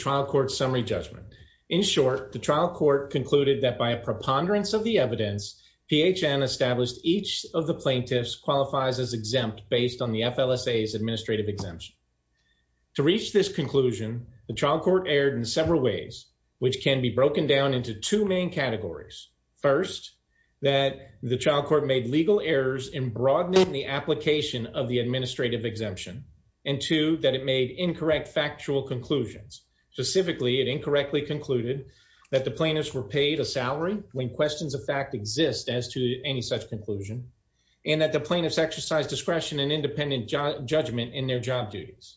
Trial Court Summary Judgment. In short, the trial court concluded that by a preponderance of the evidence, PHN established each of the plaintiffs qualifies as exempt based on the FLSA's administrative exemption. To reach this conclusion, the trial court erred in several ways, which can be broken down into two main categories. First, that the trial court made legal errors in broadening the application of the administrative exemption, and two, that it made incorrect factual conclusions. Specifically, it incorrectly concluded that the plaintiffs were paid a salary when questions of fact exist as to any such conclusion, and that the plaintiffs exercised discretion and independent judgment in their job duties.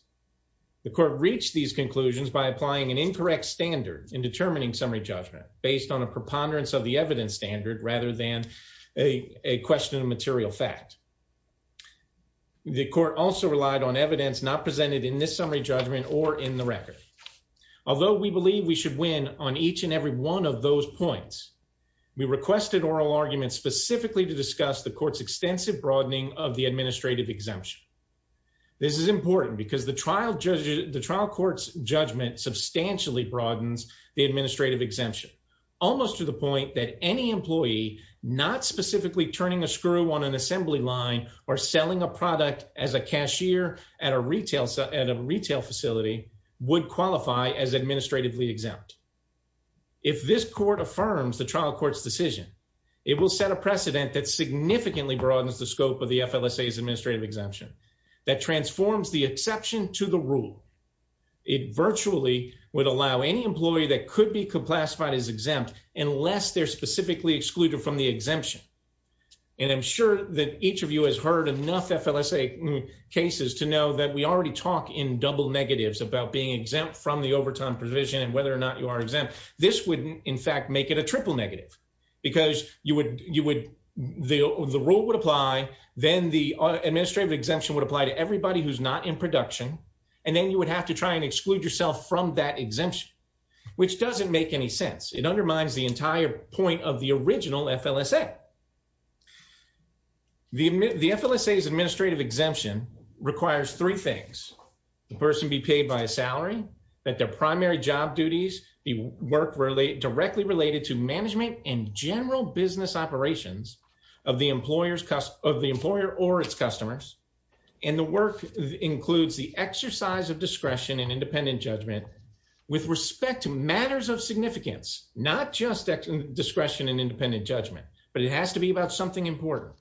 The court reached these conclusions by applying an incorrect standard in determining summary judgment based on a preponderance of the evidence standard rather than a question of material fact. The court also relied on evidence not presented in this summary judgment or in the record. Although we believe we should win on each and every one of those points, we requested oral arguments specifically to discuss the court's extensive broadening of the administrative exemption. This is important because the trial court's judgment substantially broadens the administrative exemption, almost to the point that any employee not specifically turning a screw on an assembly line or selling a product as a cashier at a retail facility would qualify as administratively exempt. If this court affirms the trial court's decision, it will set a precedent that significantly broadens the scope of the FLSA's administrative exemption, that transforms the exception to the rule. It virtually would allow any employee that could be classified as exempt unless they're specifically excluded from the exemption. And I'm sure that each of you has heard enough FLSA cases to know that we already talk in double negatives about being exempt from the overtime provision and whether or not you are exempt. This would, in fact, make it a triple negative because the rule would apply, then the administrative exemption would apply to everybody who's not in production, and then you would have to try and exclude yourself from that exemption, which doesn't make any sense. It undermines the entire point of the original FLSA. The FLSA's administrative exemption requires three things. The person be paid by a salary, that their primary job duties be work directly related to management and general business operations of the employer or its customers, and the work includes the exercise of discretion and independent judgment with respect to matters of significance, not just discretion and independent judgment, but it has to be about something important.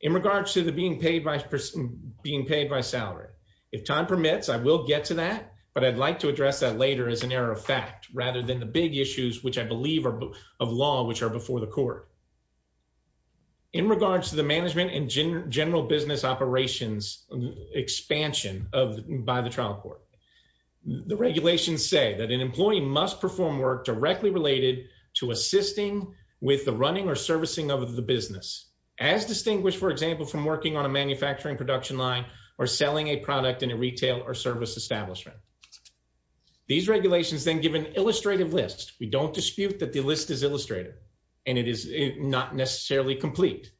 In regards to the being paid by salary, if time permits, I will get to that, but I'd like to address that later as an error of fact, rather than the big issues, which I believe are of law, which are before the court. In regards to the management and general business operations expansion by the trial court, the regulations say that an employee must perform work directly related to assisting with the running or servicing of the business, as distinguished, for example, from working on a manufacturing production line or selling a product in a retail or service establishment. These regulations then give an illustrative list. We don't dispute that the list is illustrative and it is not necessarily complete,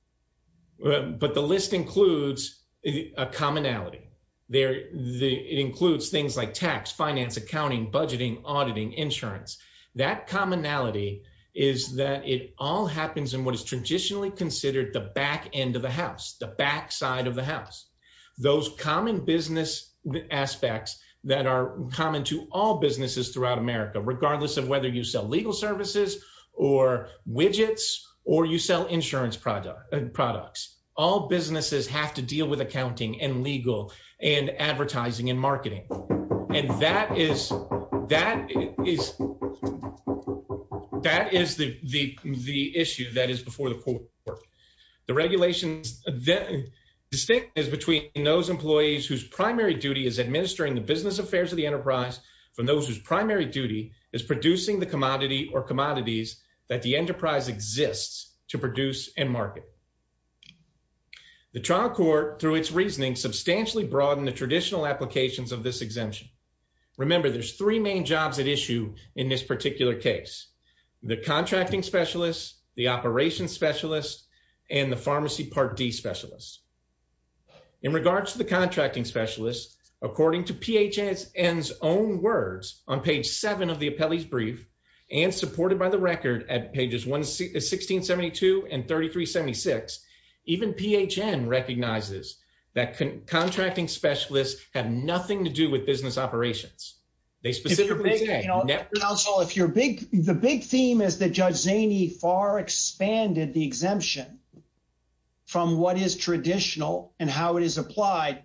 but the list includes a commonality. It includes things like tax, finance, accounting, budgeting, auditing, insurance. That commonality is that it all happens in what is traditionally considered the back end of the house, the back side of the house. Those common business aspects that are common to all businesses throughout America, regardless of whether you sell legal services or widgets, or you sell insurance products, all businesses have to deal with accounting and legal and advertising and marketing. And that is the issue that is before the court. The regulations, the distinction is between those employees whose primary duty is administering the business affairs of the enterprise from those whose primary duty is producing the commodity or commodities that the enterprise exists to produce and market. The trial court, through its reasoning, substantially broadened the traditional applications of this exemption. Remember, there's three main jobs at issue in this particular case, the contracting specialist, the operations specialist, and the PHN's own words on page seven of the appellee's brief and supported by the record at pages 1672 and 3376, even PHN recognizes that contracting specialists have nothing to do with business operations. The big theme is that Judge Zaney far expanded the exemption from what is traditional and how it is applied.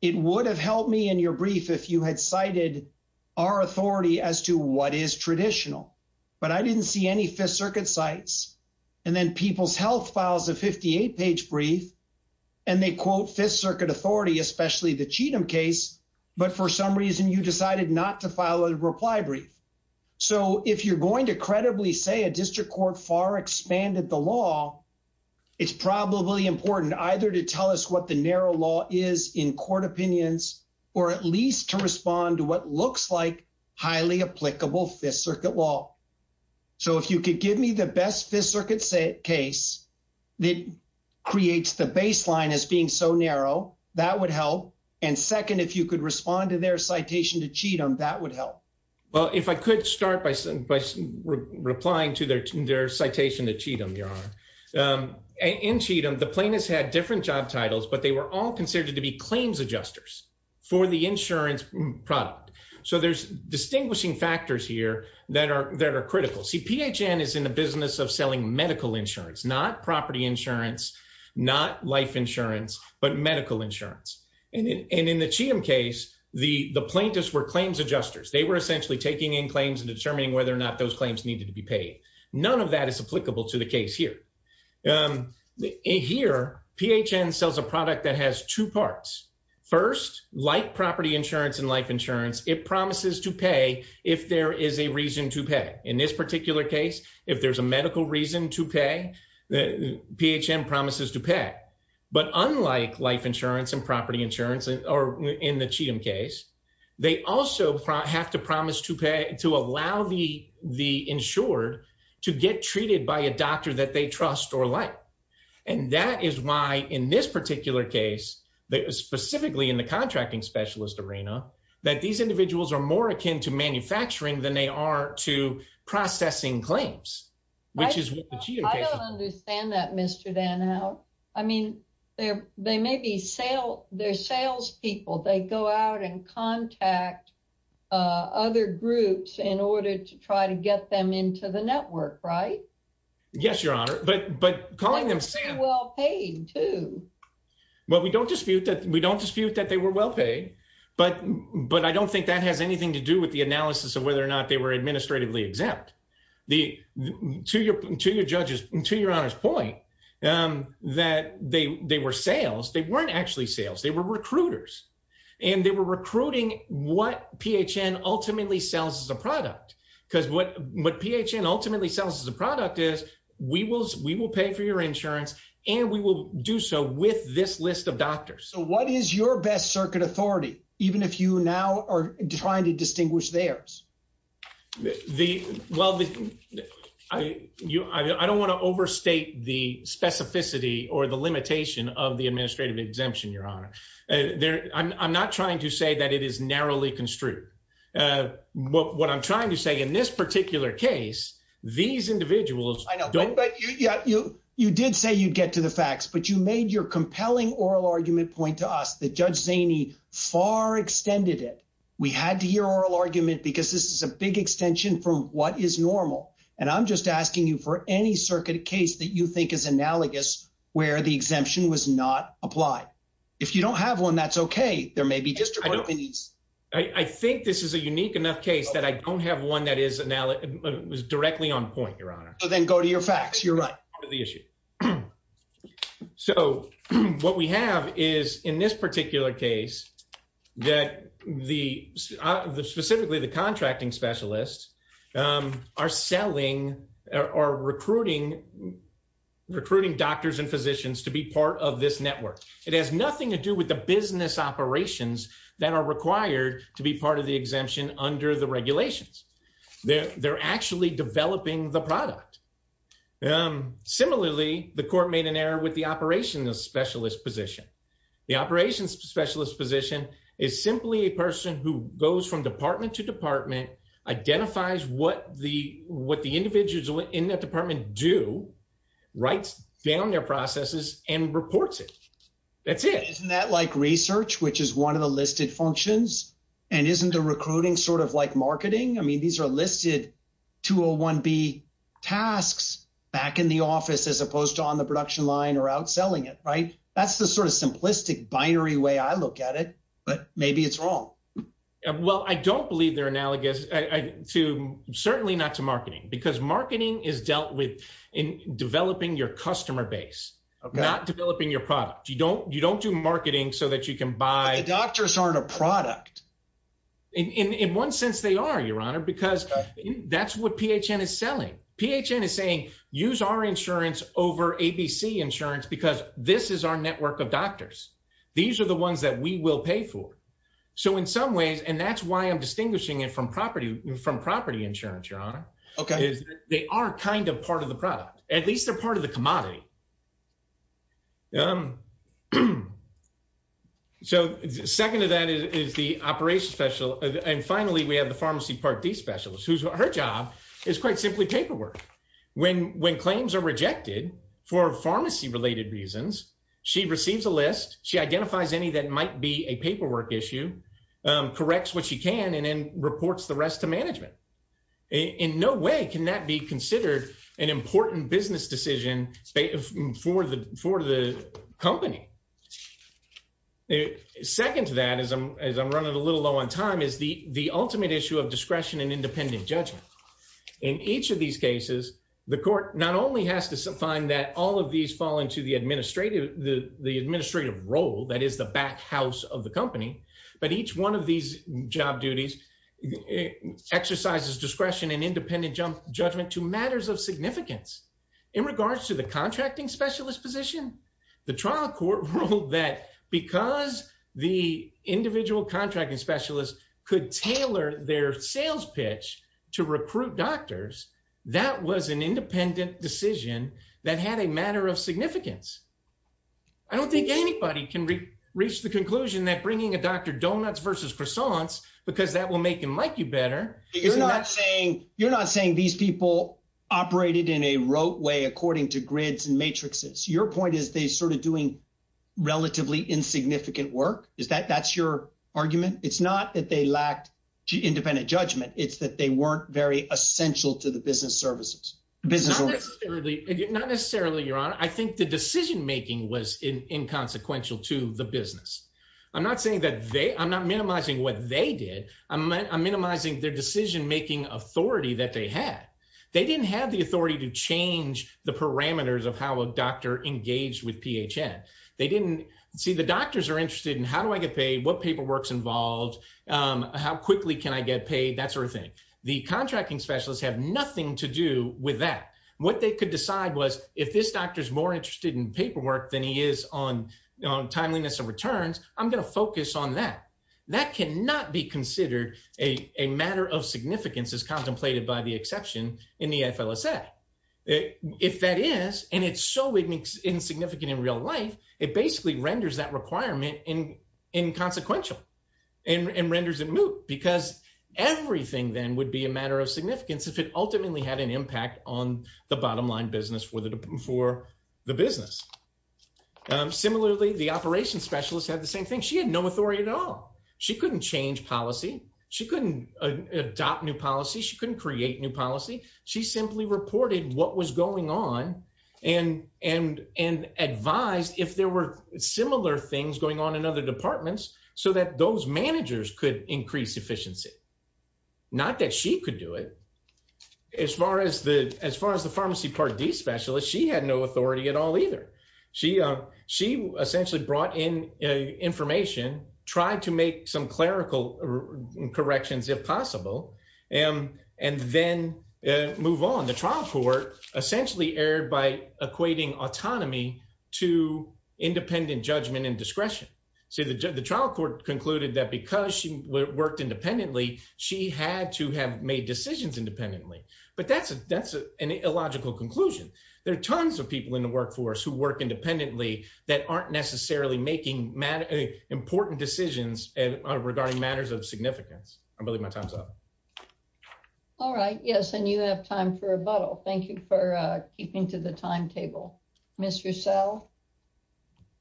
It would have helped me in your brief if you had cited our authority as to what is traditional, but I didn't see any Fifth Circuit sites and then People's Health files a 58-page brief and they quote Fifth Circuit authority, especially the Cheatham case, but for some reason you decided not to file a reply brief. So, if you're going to credibly say a district court far expanded the law, it's probably important either to tell us what the narrow law is in court opinions or at least to respond to what looks like highly applicable Fifth Circuit law. So, if you could give me the best Fifth Circuit case that creates the baseline as being so narrow, that would help, and second, if you could respond to their citation to Cheatham, that would help. Well, if I could start by replying to their citation to Cheatham, Your Honor. In Cheatham, the plaintiffs had different job titles, but they were all considered to be claims adjusters for the insurance product. So, there's distinguishing factors here that are critical. See, PHN is in the business of selling medical insurance, not property insurance, not life insurance, but medical insurance, and in the Cheatham case, the plaintiffs were claims adjusters. They were essentially taking in claims and determining whether or not those claims needed to be paid. None of that is applicable to the case here. Here, PHN sells a product that has two parts. First, like property insurance and life insurance, it promises to pay if there is a reason to pay. In this particular case, if there's a medical reason to pay, PHN promises to pay, but unlike life insurance and property insurance or in the Cheatham case, they also have to promise to pay, to allow the insured to get treated by a doctor that they trust or like, and that is why in this particular case, specifically in the contracting specialist arena, that these individuals are more akin to manufacturing than they are to processing claims, which is what the Cheatham case is. I don't understand that, Mr. Danout. I mean, they may be salespeople. They go out and contact other groups in order to try to get them into the network, right? Yes, Your Honor, but calling them sales... They were well paid, too. Well, we don't dispute that they were well paid, but I don't think that has anything to do with the analysis of whether or not they were administratively exempt. To Your Honor's point, that they were sales. They weren't actually sales. They were recruiters, and they were recruiting what PHN ultimately sells as a product, because what PHN ultimately sells as a product is, we will pay for your insurance, and we will do so with this list of doctors. So, what is your best circuit authority, even if you now are trying to or the limitation of the administrative exemption, Your Honor? I'm not trying to say that it is narrowly construed. What I'm trying to say, in this particular case, these individuals don't... I know, but you did say you'd get to the facts, but you made your compelling oral argument point to us that Judge Zaney far extended it. We had to hear oral argument because this is a big extension from what is normal, and I'm just asking you for any circuit case that you think is analogous, where the exemption was not applied. If you don't have one, that's okay. There may be just... I think this is a unique enough case that I don't have one that is directly on point, Your Honor. So, then go to your facts. You're right. Go to the issue. So, what we have is, in this particular case, that the... specifically, the contracting specialists are selling or recruiting doctors and physicians to be part of this network. It has nothing to do with the business operations that are required to be part of the exemption under the regulations. They're actually developing the product. Similarly, the court made an error with the operations specialist position. The operations specialist position is simply a person who goes from department to department, identifies what the individuals in that department do, writes down their processes, and reports it. That's it. Isn't that like research, which is one of the listed functions? And isn't the recruiting sort of like marketing? I mean, these are listed 201B tasks back in the office as opposed to on production line or outselling it, right? That's the sort of simplistic binary way I look at it, but maybe it's wrong. Well, I don't believe they're analogous to... certainly not to marketing, because marketing is dealt with in developing your customer base, not developing your product. You don't do marketing so that you can buy... But the doctors aren't a product. In one sense, they are, Your Honor, because that's what PHN is selling. PHN is saying, use our insurance over ABC insurance, because this is our network of doctors. These are the ones that we will pay for. So in some ways, and that's why I'm distinguishing it from property insurance, Your Honor, is they are kind of part of the product. At least they're part of the commodity. So second to that is the operations specialist. And finally, we have the pharmacy part D specialist, whose her job is quite simply paperwork. When claims are rejected for pharmacy-related reasons, she receives a list, she identifies any that might be a paperwork issue, corrects what she can, and then reports the rest to management. In no way can that be considered an important business decision for the company. Second to that, as I'm running a little low on time, is the ultimate issue of discretion and independent judgment. In each of these cases, the court not only has to find that all of these fall into the administrative role, that is the back house of the company, but each one of these job duties exercises discretion and independent judgment to matters of significance. In regards to the contracting specialist position, the trial court ruled that because the individual contracting specialist could tailor their sales pitch to recruit doctors, that was an independent decision that had a matter of significance. I don't think anybody can reach the conclusion that bringing a doctor donuts versus croissants, because that will make him like you better. You're not saying these people operated in a rote way according to grids and matrices. Your point is they sort of doing relatively insignificant work? That's your argument? It's not that they lacked independent judgment. It's that they weren't very essential to the business services. Not necessarily, Your Honor. I think the decision-making was inconsequential to the business. I'm not minimizing what they did. I'm minimizing their decision-making authority that they had. They didn't have the authority to change the parameters of how a doctor engaged with PHN. The doctors are interested in how do I get paid, what paperwork's involved, how quickly can I get paid, that sort of thing. The contracting specialists have nothing to do with that. What they could decide was, if this doctor's more interested in paperwork than he is on timeliness of returns, I'm going focus on that. That cannot be considered a matter of significance as contemplated by the exception in the FLSA. If that is, and it's so insignificant in real life, it basically renders that requirement inconsequential and renders it moot, because everything then would be a matter of significance if it ultimately had an impact on the bottom-line business for the business. Similarly, the operations specialist had the same thing. She had no authority at all. She couldn't change policy. She couldn't adopt new policy. She couldn't create new policy. She simply reported what was going on and advised if there were similar things going on in other departments so that those managers could increase efficiency. Not that she could do it. As far as the pharmacy Part D specialist, she had no authority at all either. She essentially brought in information, tried to make some clerical corrections if possible, and then move on. The trial court essentially erred by equating autonomy to independent judgment and discretion. The trial court concluded that because she worked independently, she had to have decisions independently. But that's an illogical conclusion. There are tons of people in the workforce who work independently that aren't necessarily making important decisions regarding matters of significance. I believe my time's up. All right. Yes, and you have time for rebuttal. Thank you for keeping to the timetable. Ms. Roussel?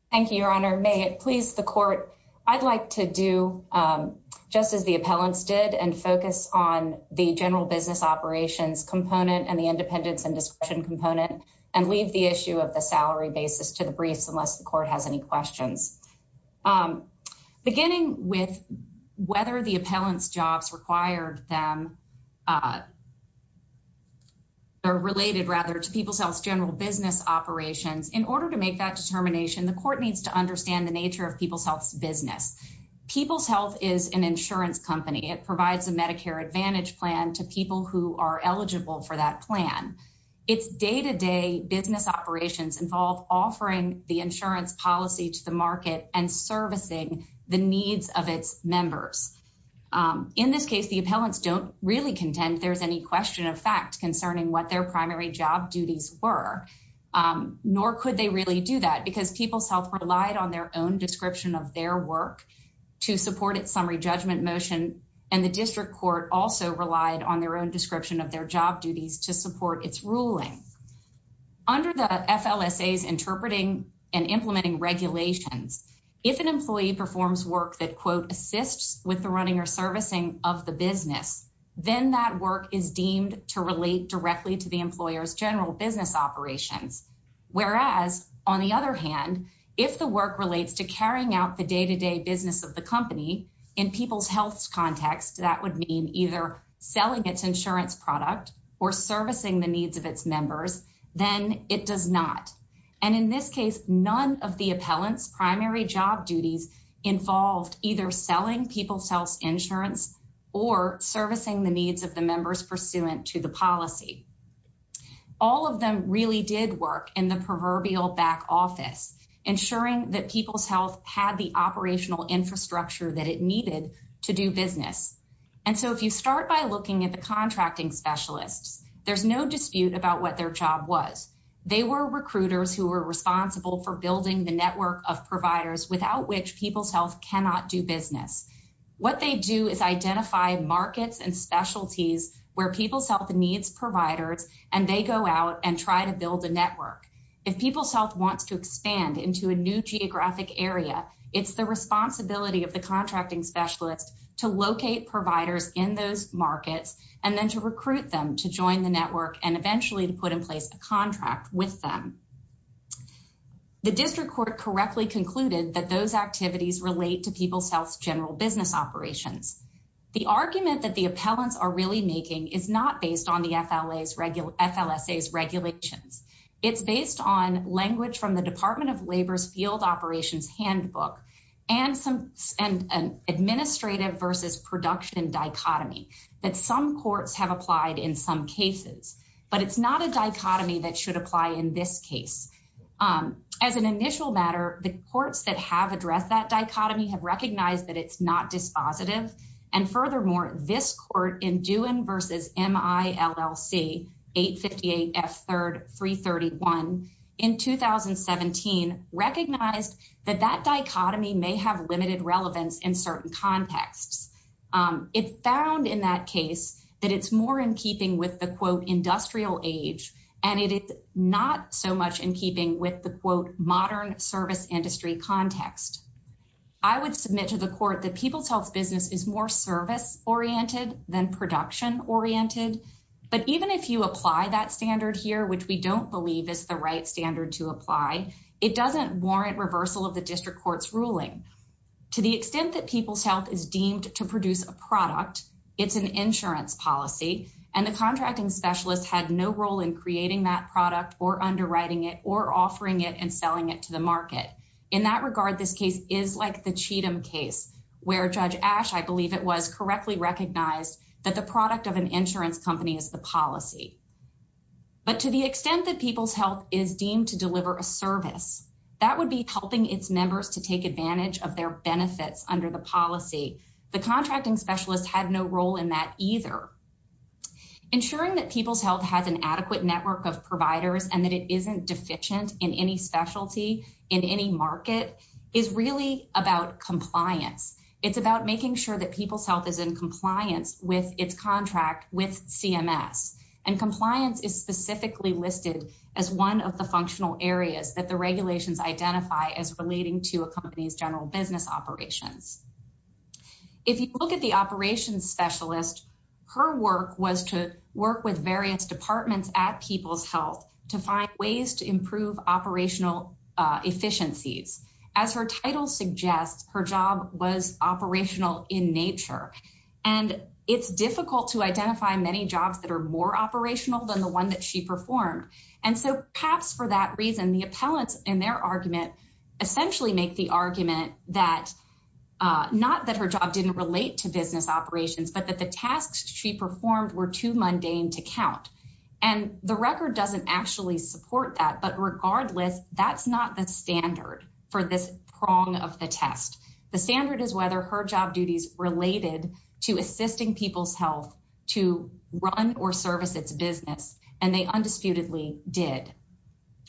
Thank you, Your Honor. May it please the Court, I'd like to do just as the appellants did and focus on the general business operations component and the independence and discretion component and leave the issue of the salary basis to the briefs unless the Court has any questions. Beginning with whether the appellant's jobs required them or related rather to People's Health's general business operations, in order to understand the nature of People's Health's business, People's Health is an insurance company. It provides a Medicare Advantage plan to people who are eligible for that plan. Its day-to-day business operations involve offering the insurance policy to the market and servicing the needs of its members. In this case, the appellants don't really contend there's any question of fact concerning what their primary job duties were, nor could they really do that because People's Health relied on their own description of their work to support its summary judgment motion and the District Court also relied on their own description of their job duties to support its ruling. Under the FLSA's interpreting and implementing regulations, if an employee performs work that quote, assists with the running or servicing of the business, then that work is deemed to relate directly to the employer's general business operations. Whereas, on the other hand, if the work relates to carrying out the day-to-day business of the company in People's Health's context, that would mean either selling its insurance product or servicing the needs of its members, then it does not. And in this case, none of the appellant's primary job duties involved either selling People's Health's or servicing the needs of the members pursuant to the policy. All of them really did work in the proverbial back office, ensuring that People's Health had the operational infrastructure that it needed to do business. And so, if you start by looking at the contracting specialists, there's no dispute about what their job was. They were recruiters who were responsible for building the network of providers without which People's Health cannot do markets and specialties where People's Health needs providers and they go out and try to build a network. If People's Health wants to expand into a new geographic area, it's the responsibility of the contracting specialist to locate providers in those markets and then to recruit them to join the network and eventually to put in place a contract with them. The district court correctly concluded that those activities relate to People's Health's general business operations. The argument that the appellants are really making is not based on the FLSA's regulations. It's based on language from the Department of Labor's field operations handbook and an administrative versus production dichotomy that some courts have applied in some cases. But it's not a dichotomy that should apply in this case. As an initial matter, the courts that have addressed that dichotomy have recognized that it's not dispositive. And furthermore, this court in Dewin v. MILLC 858F3-331 in 2017 recognized that that dichotomy may have limited relevance in certain contexts. It found in that case that it's more in keeping with the industrial age and it is not so much in keeping with the modern service industry context. I would submit to the court that People's Health's business is more service-oriented than production-oriented. But even if you apply that standard here, which we don't believe is the right standard to apply, it doesn't warrant reversal of the district court's ruling. To the extent that People's Health is deemed to produce a product, it's an insurance policy, and the contracting specialist had no role in creating that product or underwriting it or offering it and selling it to the market. In that regard, this case is like the Cheatham case, where Judge Ash, I believe it was, correctly recognized that the product of an insurance company is the policy. But to the extent that People's Health is deemed to deliver a service, that would be helping its members to take advantage of their benefits under the policy. The contracting specialist had no role in that either. Ensuring that People's Health has an adequate network of providers and that it isn't deficient in any specialty in any market is really about compliance. It's about making sure that People's Health is in compliance with its contract with CMS. And compliance is specifically listed as one of the functional areas that the regulations identify as relating to a company's general business operations. If you look at the operations specialist, her work was to work with various departments at People's Health to find ways to improve operational efficiencies. As her title suggests, her job was operational in nature. And it's difficult to identify many jobs that are more operational than the one that she performed. And so perhaps for that reason, the appellants in their argument, essentially make the argument that not that her job didn't relate to business operations, but that the tasks she performed were too mundane to count. And the record doesn't actually support that. But regardless, that's not the standard for this prong of the test. The standard is whether her job duties related to assisting People's Health to run or service its business. And they undisputedly did.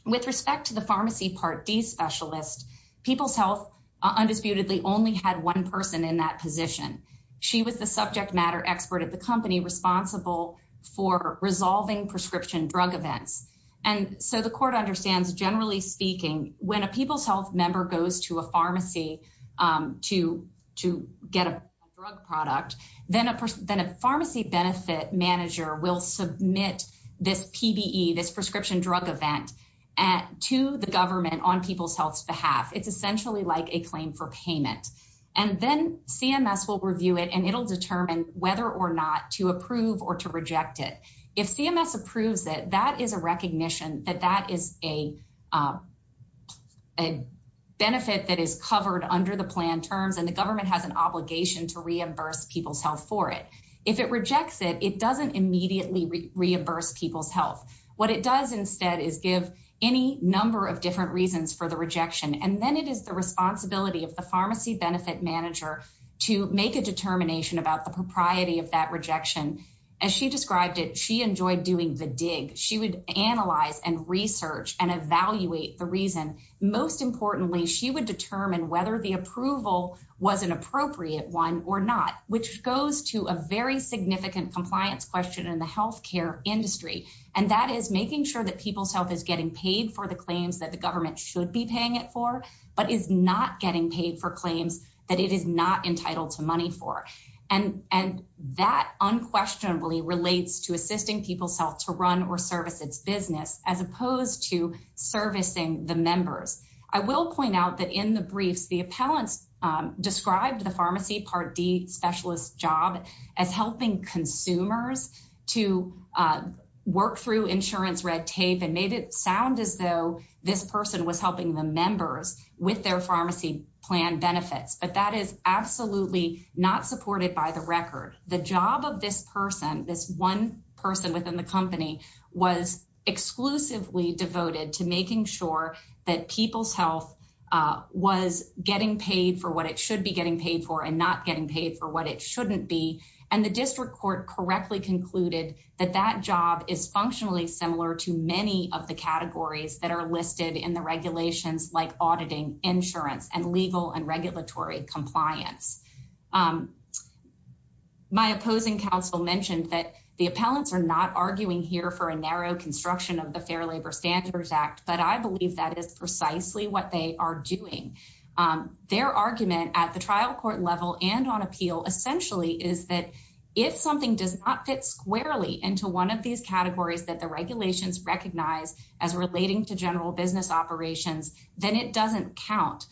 With respect to the pharmacy Part D specialist, People's Health undisputedly only had one person in that position. She was the subject matter expert at the company responsible for resolving prescription drug events. And so the court understands, generally speaking, when a People's Health member goes to a pharmacy to get a drug product, then a pharmacy benefit manager will submit this PBE, this prescription drug event, to the government on People's Health's behalf. It's essentially like a claim for payment. And then CMS will review it, and it'll determine whether or not to approve or to reject it. If CMS approves it, that is a recognition that that is a benefit that is covered under the plan terms, and the government has an obligation to reimburse People's Health for it. If it rejects it, it doesn't immediately reimburse People's Health. What it does instead is give any number of different reasons for the rejection. And then it is the responsibility of the pharmacy benefit manager to make a determination about the propriety of that rejection. As she described it, she enjoyed doing the dig. She would analyze and research and evaluate the reason. Most importantly, she would determine whether the approval was an appropriate one or not, which goes to a very significant compliance question in the healthcare industry. And that is making sure that People's Health is getting paid for the claims that the government should be paying it for, but is not getting paid for claims that it is not entitled to money for. And that unquestionably relates to assisting People's Health to run or service its business, as opposed to servicing the members. I will point out that in the briefs, the appellants described the pharmacy Part D specialist job as helping consumers to work through insurance red tape and made it sound as though this person was helping the members with their pharmacy plan benefits. But that is absolutely not supported by the record. The job of this person, this one person within the company, was exclusively devoted to making sure that People's Health was getting paid for what it should be getting paid for and not getting paid for what it shouldn't be. And the district court correctly concluded that that job is functionally similar to many of the categories that are listed in the regulations like auditing, insurance, and legal and regulatory compliance. My opposing counsel mentioned that the appellants are not arguing here for a narrow construction of the Fair Labor Standards Act, but I believe that is precisely what they are doing. Their argument at the trial court level and on appeal essentially is that if something does not fit squarely into one of these categories that the regulations recognize as relating to general business operations, then it doesn't count.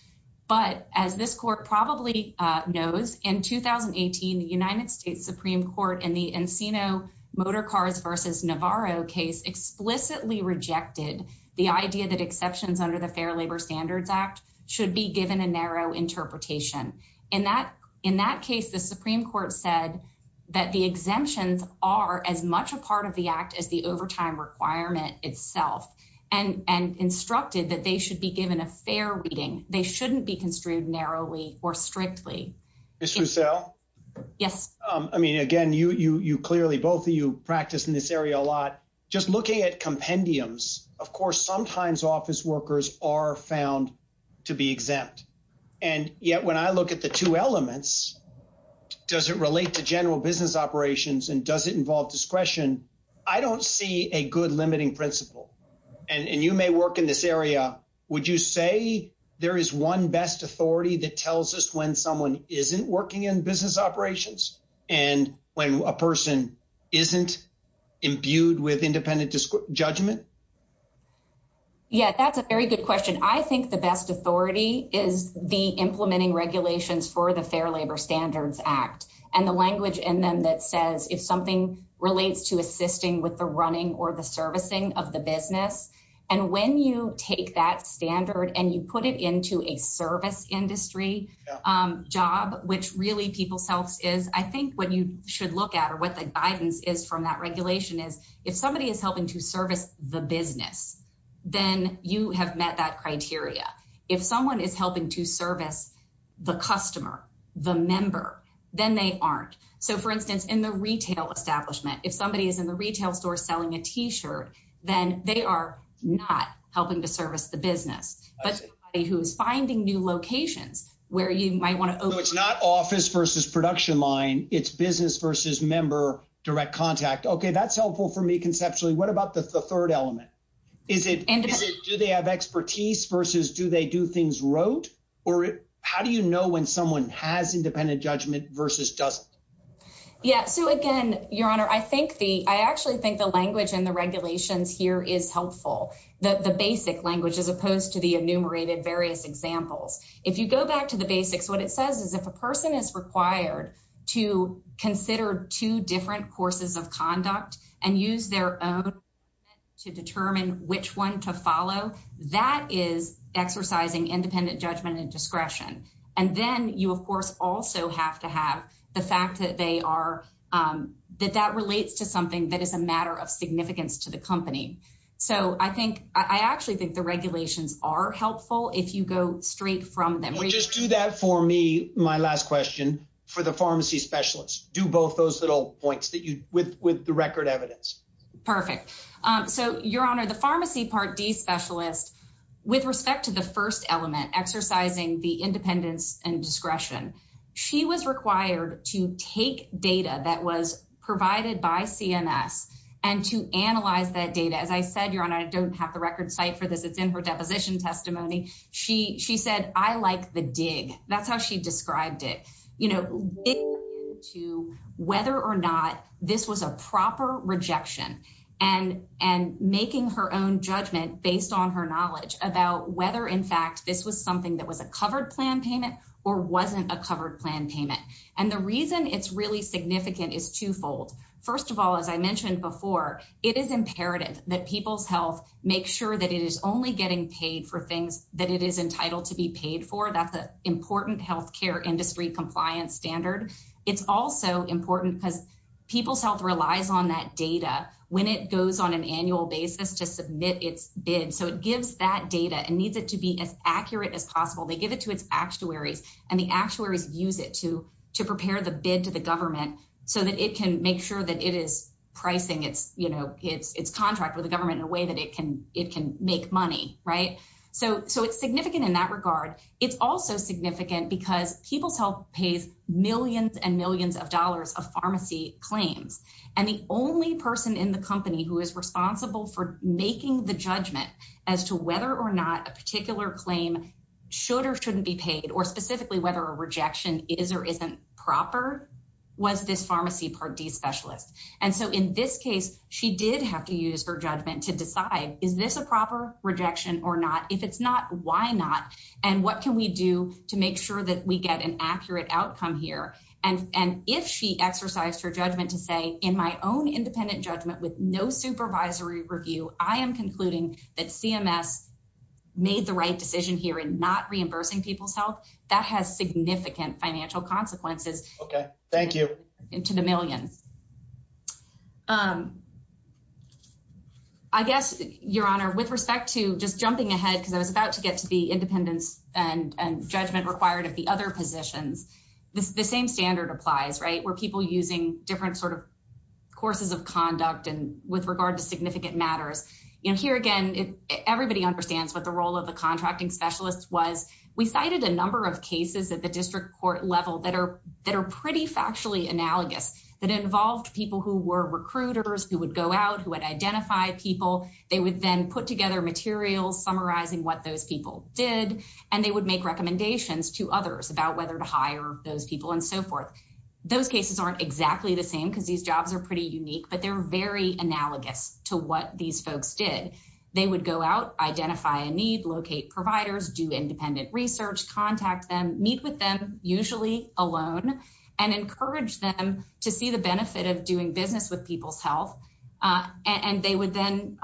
But as this court probably knows, in 2018, the United States Supreme Court in the Encino Motorcars versus Navarro case explicitly rejected the idea that exceptions under the Fair Labor Standards Act should be given a narrow interpretation. In that case, the Supreme Court said that the exemptions are as much a part of the Act as the overtime requirement itself and instructed that they should be given a fair reading. They shouldn't be construed narrowly or strictly. Ms. Roussell? Yes. I mean, again, you clearly, both of you, practice in this area a lot. Just looking at and yet when I look at the two elements, does it relate to general business operations and does it involve discretion? I don't see a good limiting principle and you may work in this area. Would you say there is one best authority that tells us when someone isn't working in business operations and when a person isn't imbued with independent judgment? Yeah, that's a very good question. I think the best authority is the implementing regulations for the Fair Labor Standards Act and the language in them that says if something relates to assisting with the running or the servicing of the business and when you take that standard and you put it into a service industry job, which really people's health is, I think what you should look at or what the guidance is from that regulation is, if somebody is helping to service the business, then you have met that criteria. If someone is helping to service the customer, the member, then they aren't. So, for instance, in the retail establishment, if somebody is in the retail store selling a t-shirt, then they are not helping to service the business. But somebody who's finding new locations where you might want to... So, it's not office versus production line, it's business versus member, direct contact. Okay, that's helpful for me conceptually. What about the third element? Do they have expertise versus do they do things rote? Or how do you know when someone has independent judgment versus doesn't? Yeah. So, again, Your Honor, I actually think the language and the regulations here is helpful. The basic language as opposed to the enumerated various examples. If you go back to the basics, what it says is if a person is required to consider two different courses of conduct and use their own to determine which one to follow, that is exercising independent judgment and discretion. And then you, of course, also have to have the fact that that relates to something that is a matter of significance to the company. So, I actually think the regulations are helpful if you go straight from them. Just do that for me, my last question for the pharmacy specialist. Do both those little points with the record evidence. Perfect. So, Your Honor, the pharmacy part D specialist, with respect to the first element, exercising the independence and discretion, she was required to take data that was provided by CMS and to analyze that data. As I said, Your Honor, I don't have the record site for this. It's in her deposition testimony. She said, I like the dig. That's how she described it. You know, whether or not this was a proper rejection and making her own judgment based on her knowledge about whether, in fact, this was something that was a covered plan payment or wasn't a covered plan payment. And the reason it's really significant is twofold. First of all, as I mentioned before, it is imperative that people's health make sure that it is only getting paid for things that it is entitled to be paid for. That's an important health care industry compliance standard. It's also important because people's health relies on that data when it goes on an annual basis to submit its bid. So, it gives that data and needs to be as accurate as possible. They give it to its actuaries and the actuaries use it to prepare the bid to the government so that it can make sure that it is pricing its contract with the government in a way that it can make money. So, it's significant in that regard. It's also significant because people's health pays millions and millions of dollars of pharmacy claims. And the only person in the company who is responsible for making the judgment as to whether or not a particular claim should or shouldn't be paid or specifically whether a rejection is or isn't proper was this pharmacy Part D specialist. And so, in this case, she did have to use her judgment to decide, is this a proper rejection or not? If it's not, why not? And what can we do to make sure that we get an accurate outcome here? And if she exercised her judgment to say, in my own the right decision here in not reimbursing people's health, that has significant financial consequences. Okay, thank you. Into the millions. I guess, your honor, with respect to just jumping ahead, because I was about to get to the independence and judgment required of the other positions, the same standard applies, right? Where people using different sort of courses of conduct and with regard to significant matters. You know, here again, everybody understands what the role of the contracting specialist was. We cited a number of cases at the district court level that are that are pretty factually analogous, that involved people who were recruiters who would go out who would identify people, they would then put together materials summarizing what those people did, and they would make recommendations to others about whether to hire those people and so forth. Those cases aren't exactly the same because these jobs are pretty unique, but they're very analogous to what these folks did. They would go out, identify a need, locate providers, do independent research, contact them, meet with them, usually alone, and encourage them to see the benefit of doing business with people's health. And they would then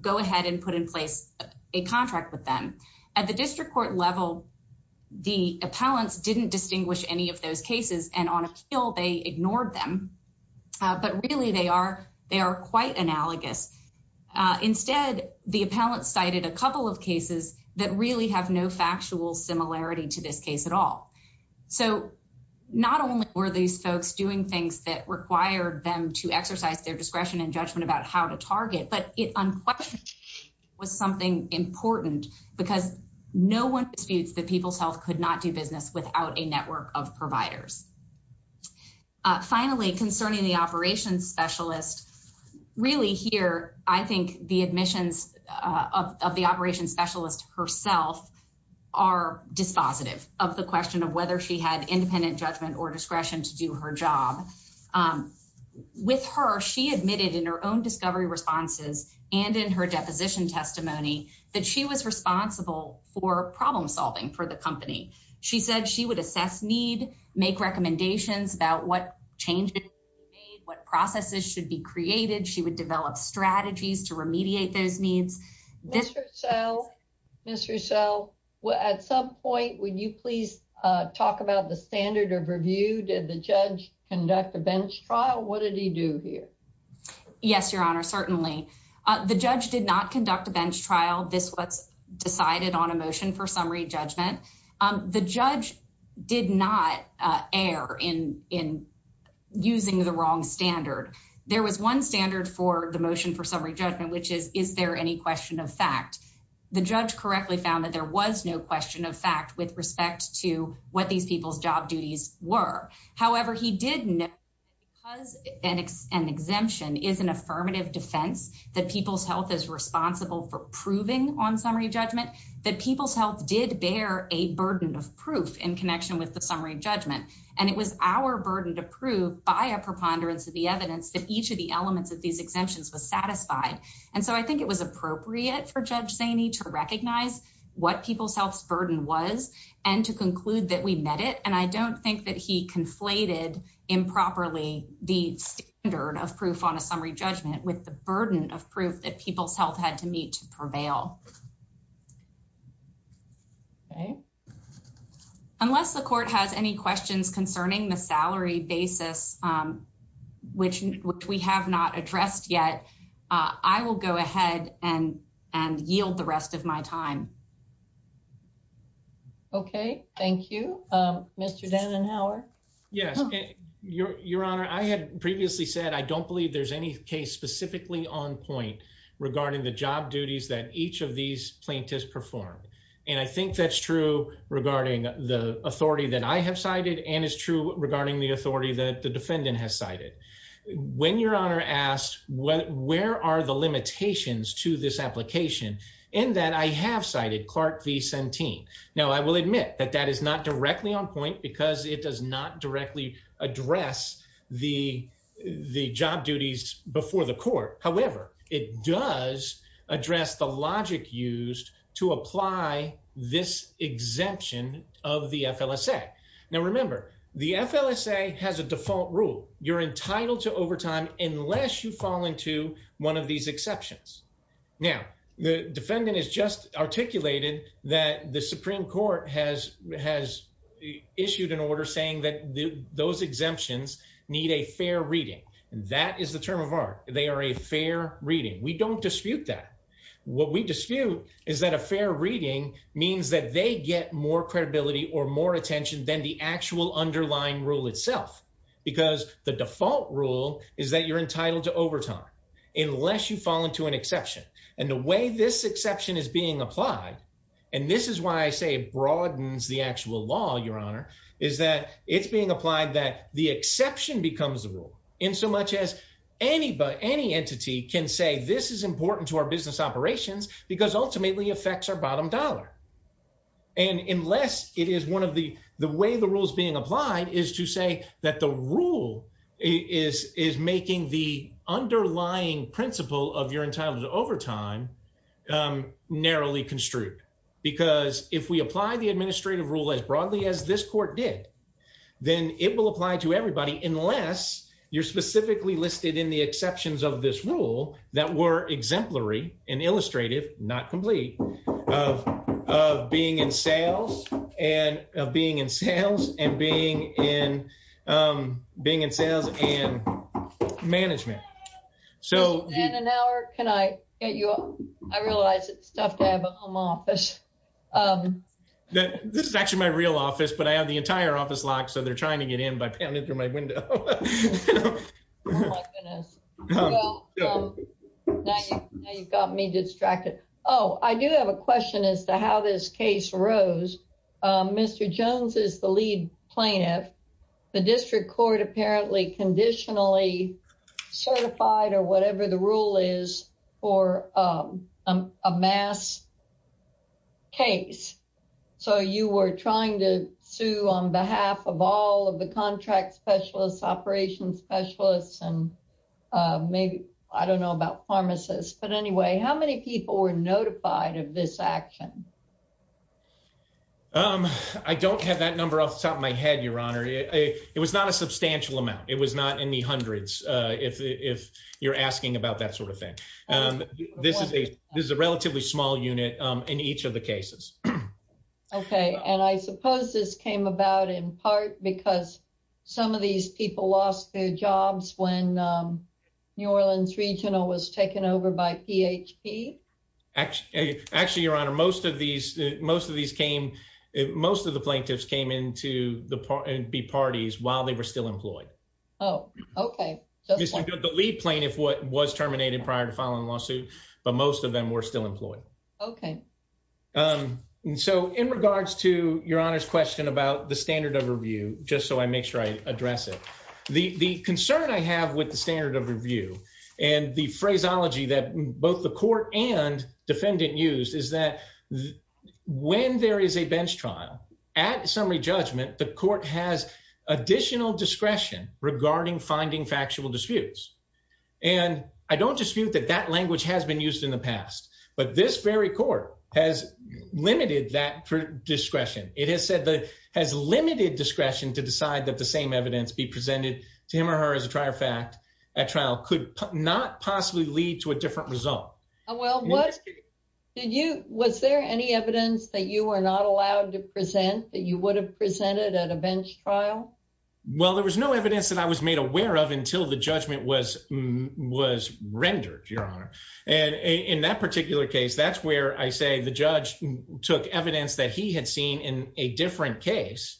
go ahead and put in place a contract with them. At the district court level, the appellants didn't distinguish any of those cases and on appeal, they ignored them. But really, they are quite analogous. Instead, the appellant cited a couple of cases that really have no factual similarity to this case at all. So not only were these folks doing things that required them to exercise their discretion and judgment about how to target, but it unquestionably was something important because no one disputes that people's health could not do business without a network of providers. Finally, concerning the operations specialist, really here, I think the admissions of the operations specialist herself are dispositive of the question of whether she had independent judgment or discretion to do her job. With her, she admitted in her own discovery responses and in her deposition testimony that she was responsible for problem solving for the company. She said she would assess need, make recommendations about what changes were made, what processes should be created. She would develop strategies to remediate those needs. Ms. Roussel, at some point, would you please talk about the standard of review? Did the judge conduct a bench trial? What did he do here? Yes, Your Honor, certainly. The judge did not conduct a bench trial. This was decided on a motion for summary judgment. The judge did not err in using the wrong standard. There was one standard for the motion for summary judgment, which is, is there any question of fact? The judge correctly found that there was no question of fact with respect to what these people's job were. However, he did know that because an exemption is an affirmative defense, that people's health is responsible for proving on summary judgment, that people's health did bear a burden of proof in connection with the summary judgment. And it was our burden to prove by a preponderance of the evidence that each of the elements of these exemptions was satisfied. And so I think it was appropriate for Judge Zaney to recognize what people's health burden was, and to conclude that we met it. And I don't think that he conflated improperly the standard of proof on a summary judgment with the burden of proof that people's health had to meet to prevail. Okay. Unless the court has any questions concerning the salary basis, which, which we have not addressed yet, I will go ahead and, and yield the rest of my time. Okay. Thank you. Um, Mr. Dannenhauer. Yes. Your, your honor, I had previously said, I don't believe there's any case specifically on point regarding the job duties that each of these plaintiffs performed. And I think that's true regarding the authority that I have cited and is true regarding the authority that the defendant has cited. When your honor asked what, where are the limitations to this application in that I have cited Clark v. Centene. Now I will admit that that is not directly on point because it does not directly address the, the job duties before the court. However, it does address the logic used to apply this exemption of the FLSA. Now, remember the FLSA has a default rule. You're entitled to overtime unless you fall into one of these exceptions. Now, the defendant has just articulated that the Supreme Court has, has issued an order saying that those exemptions need a fair reading. That is the term of art. They are a fair reading. We don't dispute that. What we dispute is that a fair reading means that they get more credibility or more attention than the actual underlying rule itself. Because the unless you fall into an exception and the way this exception is being applied, and this is why I say it broadens the actual law. Your honor is that it's being applied that the exception becomes the rule in so much as anybody, any entity can say, this is important to our business operations because ultimately affects our bottom dollar. And unless it is one of the, the way the rules being applied is to say that the rule is, is making the underlying principle of your entitlement to overtime narrowly construed. Because if we apply the administrative rule as broadly as this court did, then it will apply to everybody unless you're specifically listed in the exceptions of this rule that were exemplary and illustrative, not complete of, of being in sales and of being in sales and being in being in sales and management. So in an hour, can I get you up? I realize it's tough to have a home office. This is actually my real office, but I have the entire office locked. So they're trying to get in by pounding through my window. Oh my goodness. Now you've got me distracted. Oh, I do have a question as to how this case rose. Mr. Jones is the lead plaintiff. The district court apparently conditionally certified or whatever the rule is for a mass case. So you were trying to sue on behalf of all of the contract specialists, operations specialists, and maybe, I don't know about pharmacists, but anyway, how many people were notified of this action? I don't have that number off the top of my head, your honor. It was not a substantial amount. It was not in the hundreds. If, if you're asking about that sort of thing, this is a, this is a relatively small unit in each of the cases. Okay. And I suppose this came about in part because some of these people lost their jobs when New Orleans Regional was taken over by PHP. Actually, your honor, most of these, most of these came, most of the plaintiffs came into the parties while they were still employed. Oh, okay. The lead plaintiff was terminated prior to filing the lawsuit, but most of them were still employed. Okay. So in regards to your honor's question about the standard of review, just so I make sure I address it. The concern I have with the standard of review and the phraseology that both the court and defendant used is that when there is a bench trial at summary judgment, the court has additional discretion regarding finding factual disputes. And I don't dispute that that language has been said that has limited discretion to decide that the same evidence be presented to him or her as a trier fact at trial could not possibly lead to a different result. Well, what did you, was there any evidence that you were not allowed to present that you would have presented at a bench trial? Well, there was no evidence that I was made aware of until the judgment was, was rendered your honor. And in that particular case, that's where I say the judge took evidence that he had seen in a different case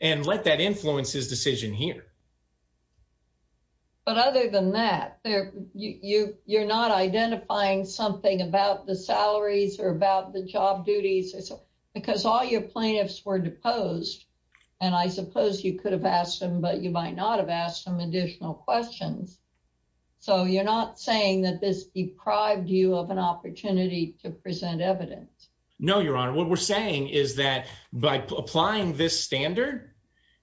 and let that influence his decision here. But other than that, you're not identifying something about the salaries or about the job duties because all your plaintiffs were deposed. And I suppose you could have asked them, but you might not have asked them additional questions. So you're not saying that this deprived you of opportunity to present evidence? No, your honor. What we're saying is that by applying this standard,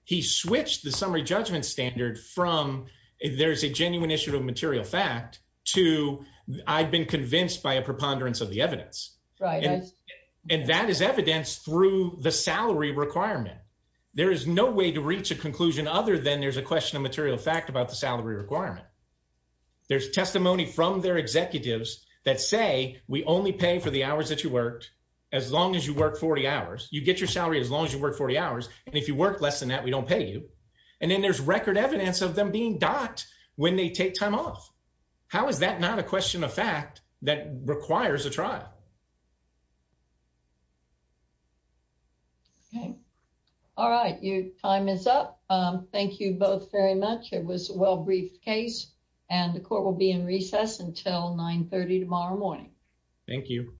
he switched the summary judgment standard from, if there's a genuine issue of material fact to I've been convinced by a preponderance of the evidence. And that is evidence through the salary requirement. There is no way to reach a conclusion other than there's a question of material fact about the salary requirement. There's testimony from their we only pay for the hours that you worked. As long as you work 40 hours, you get your salary, as long as you work 40 hours. And if you work less than that, we don't pay you. And then there's record evidence of them being docked when they take time off. How is that not a question of fact that requires a trial? Okay. All right. Your time is up. Thank you both very much. It was Thank you.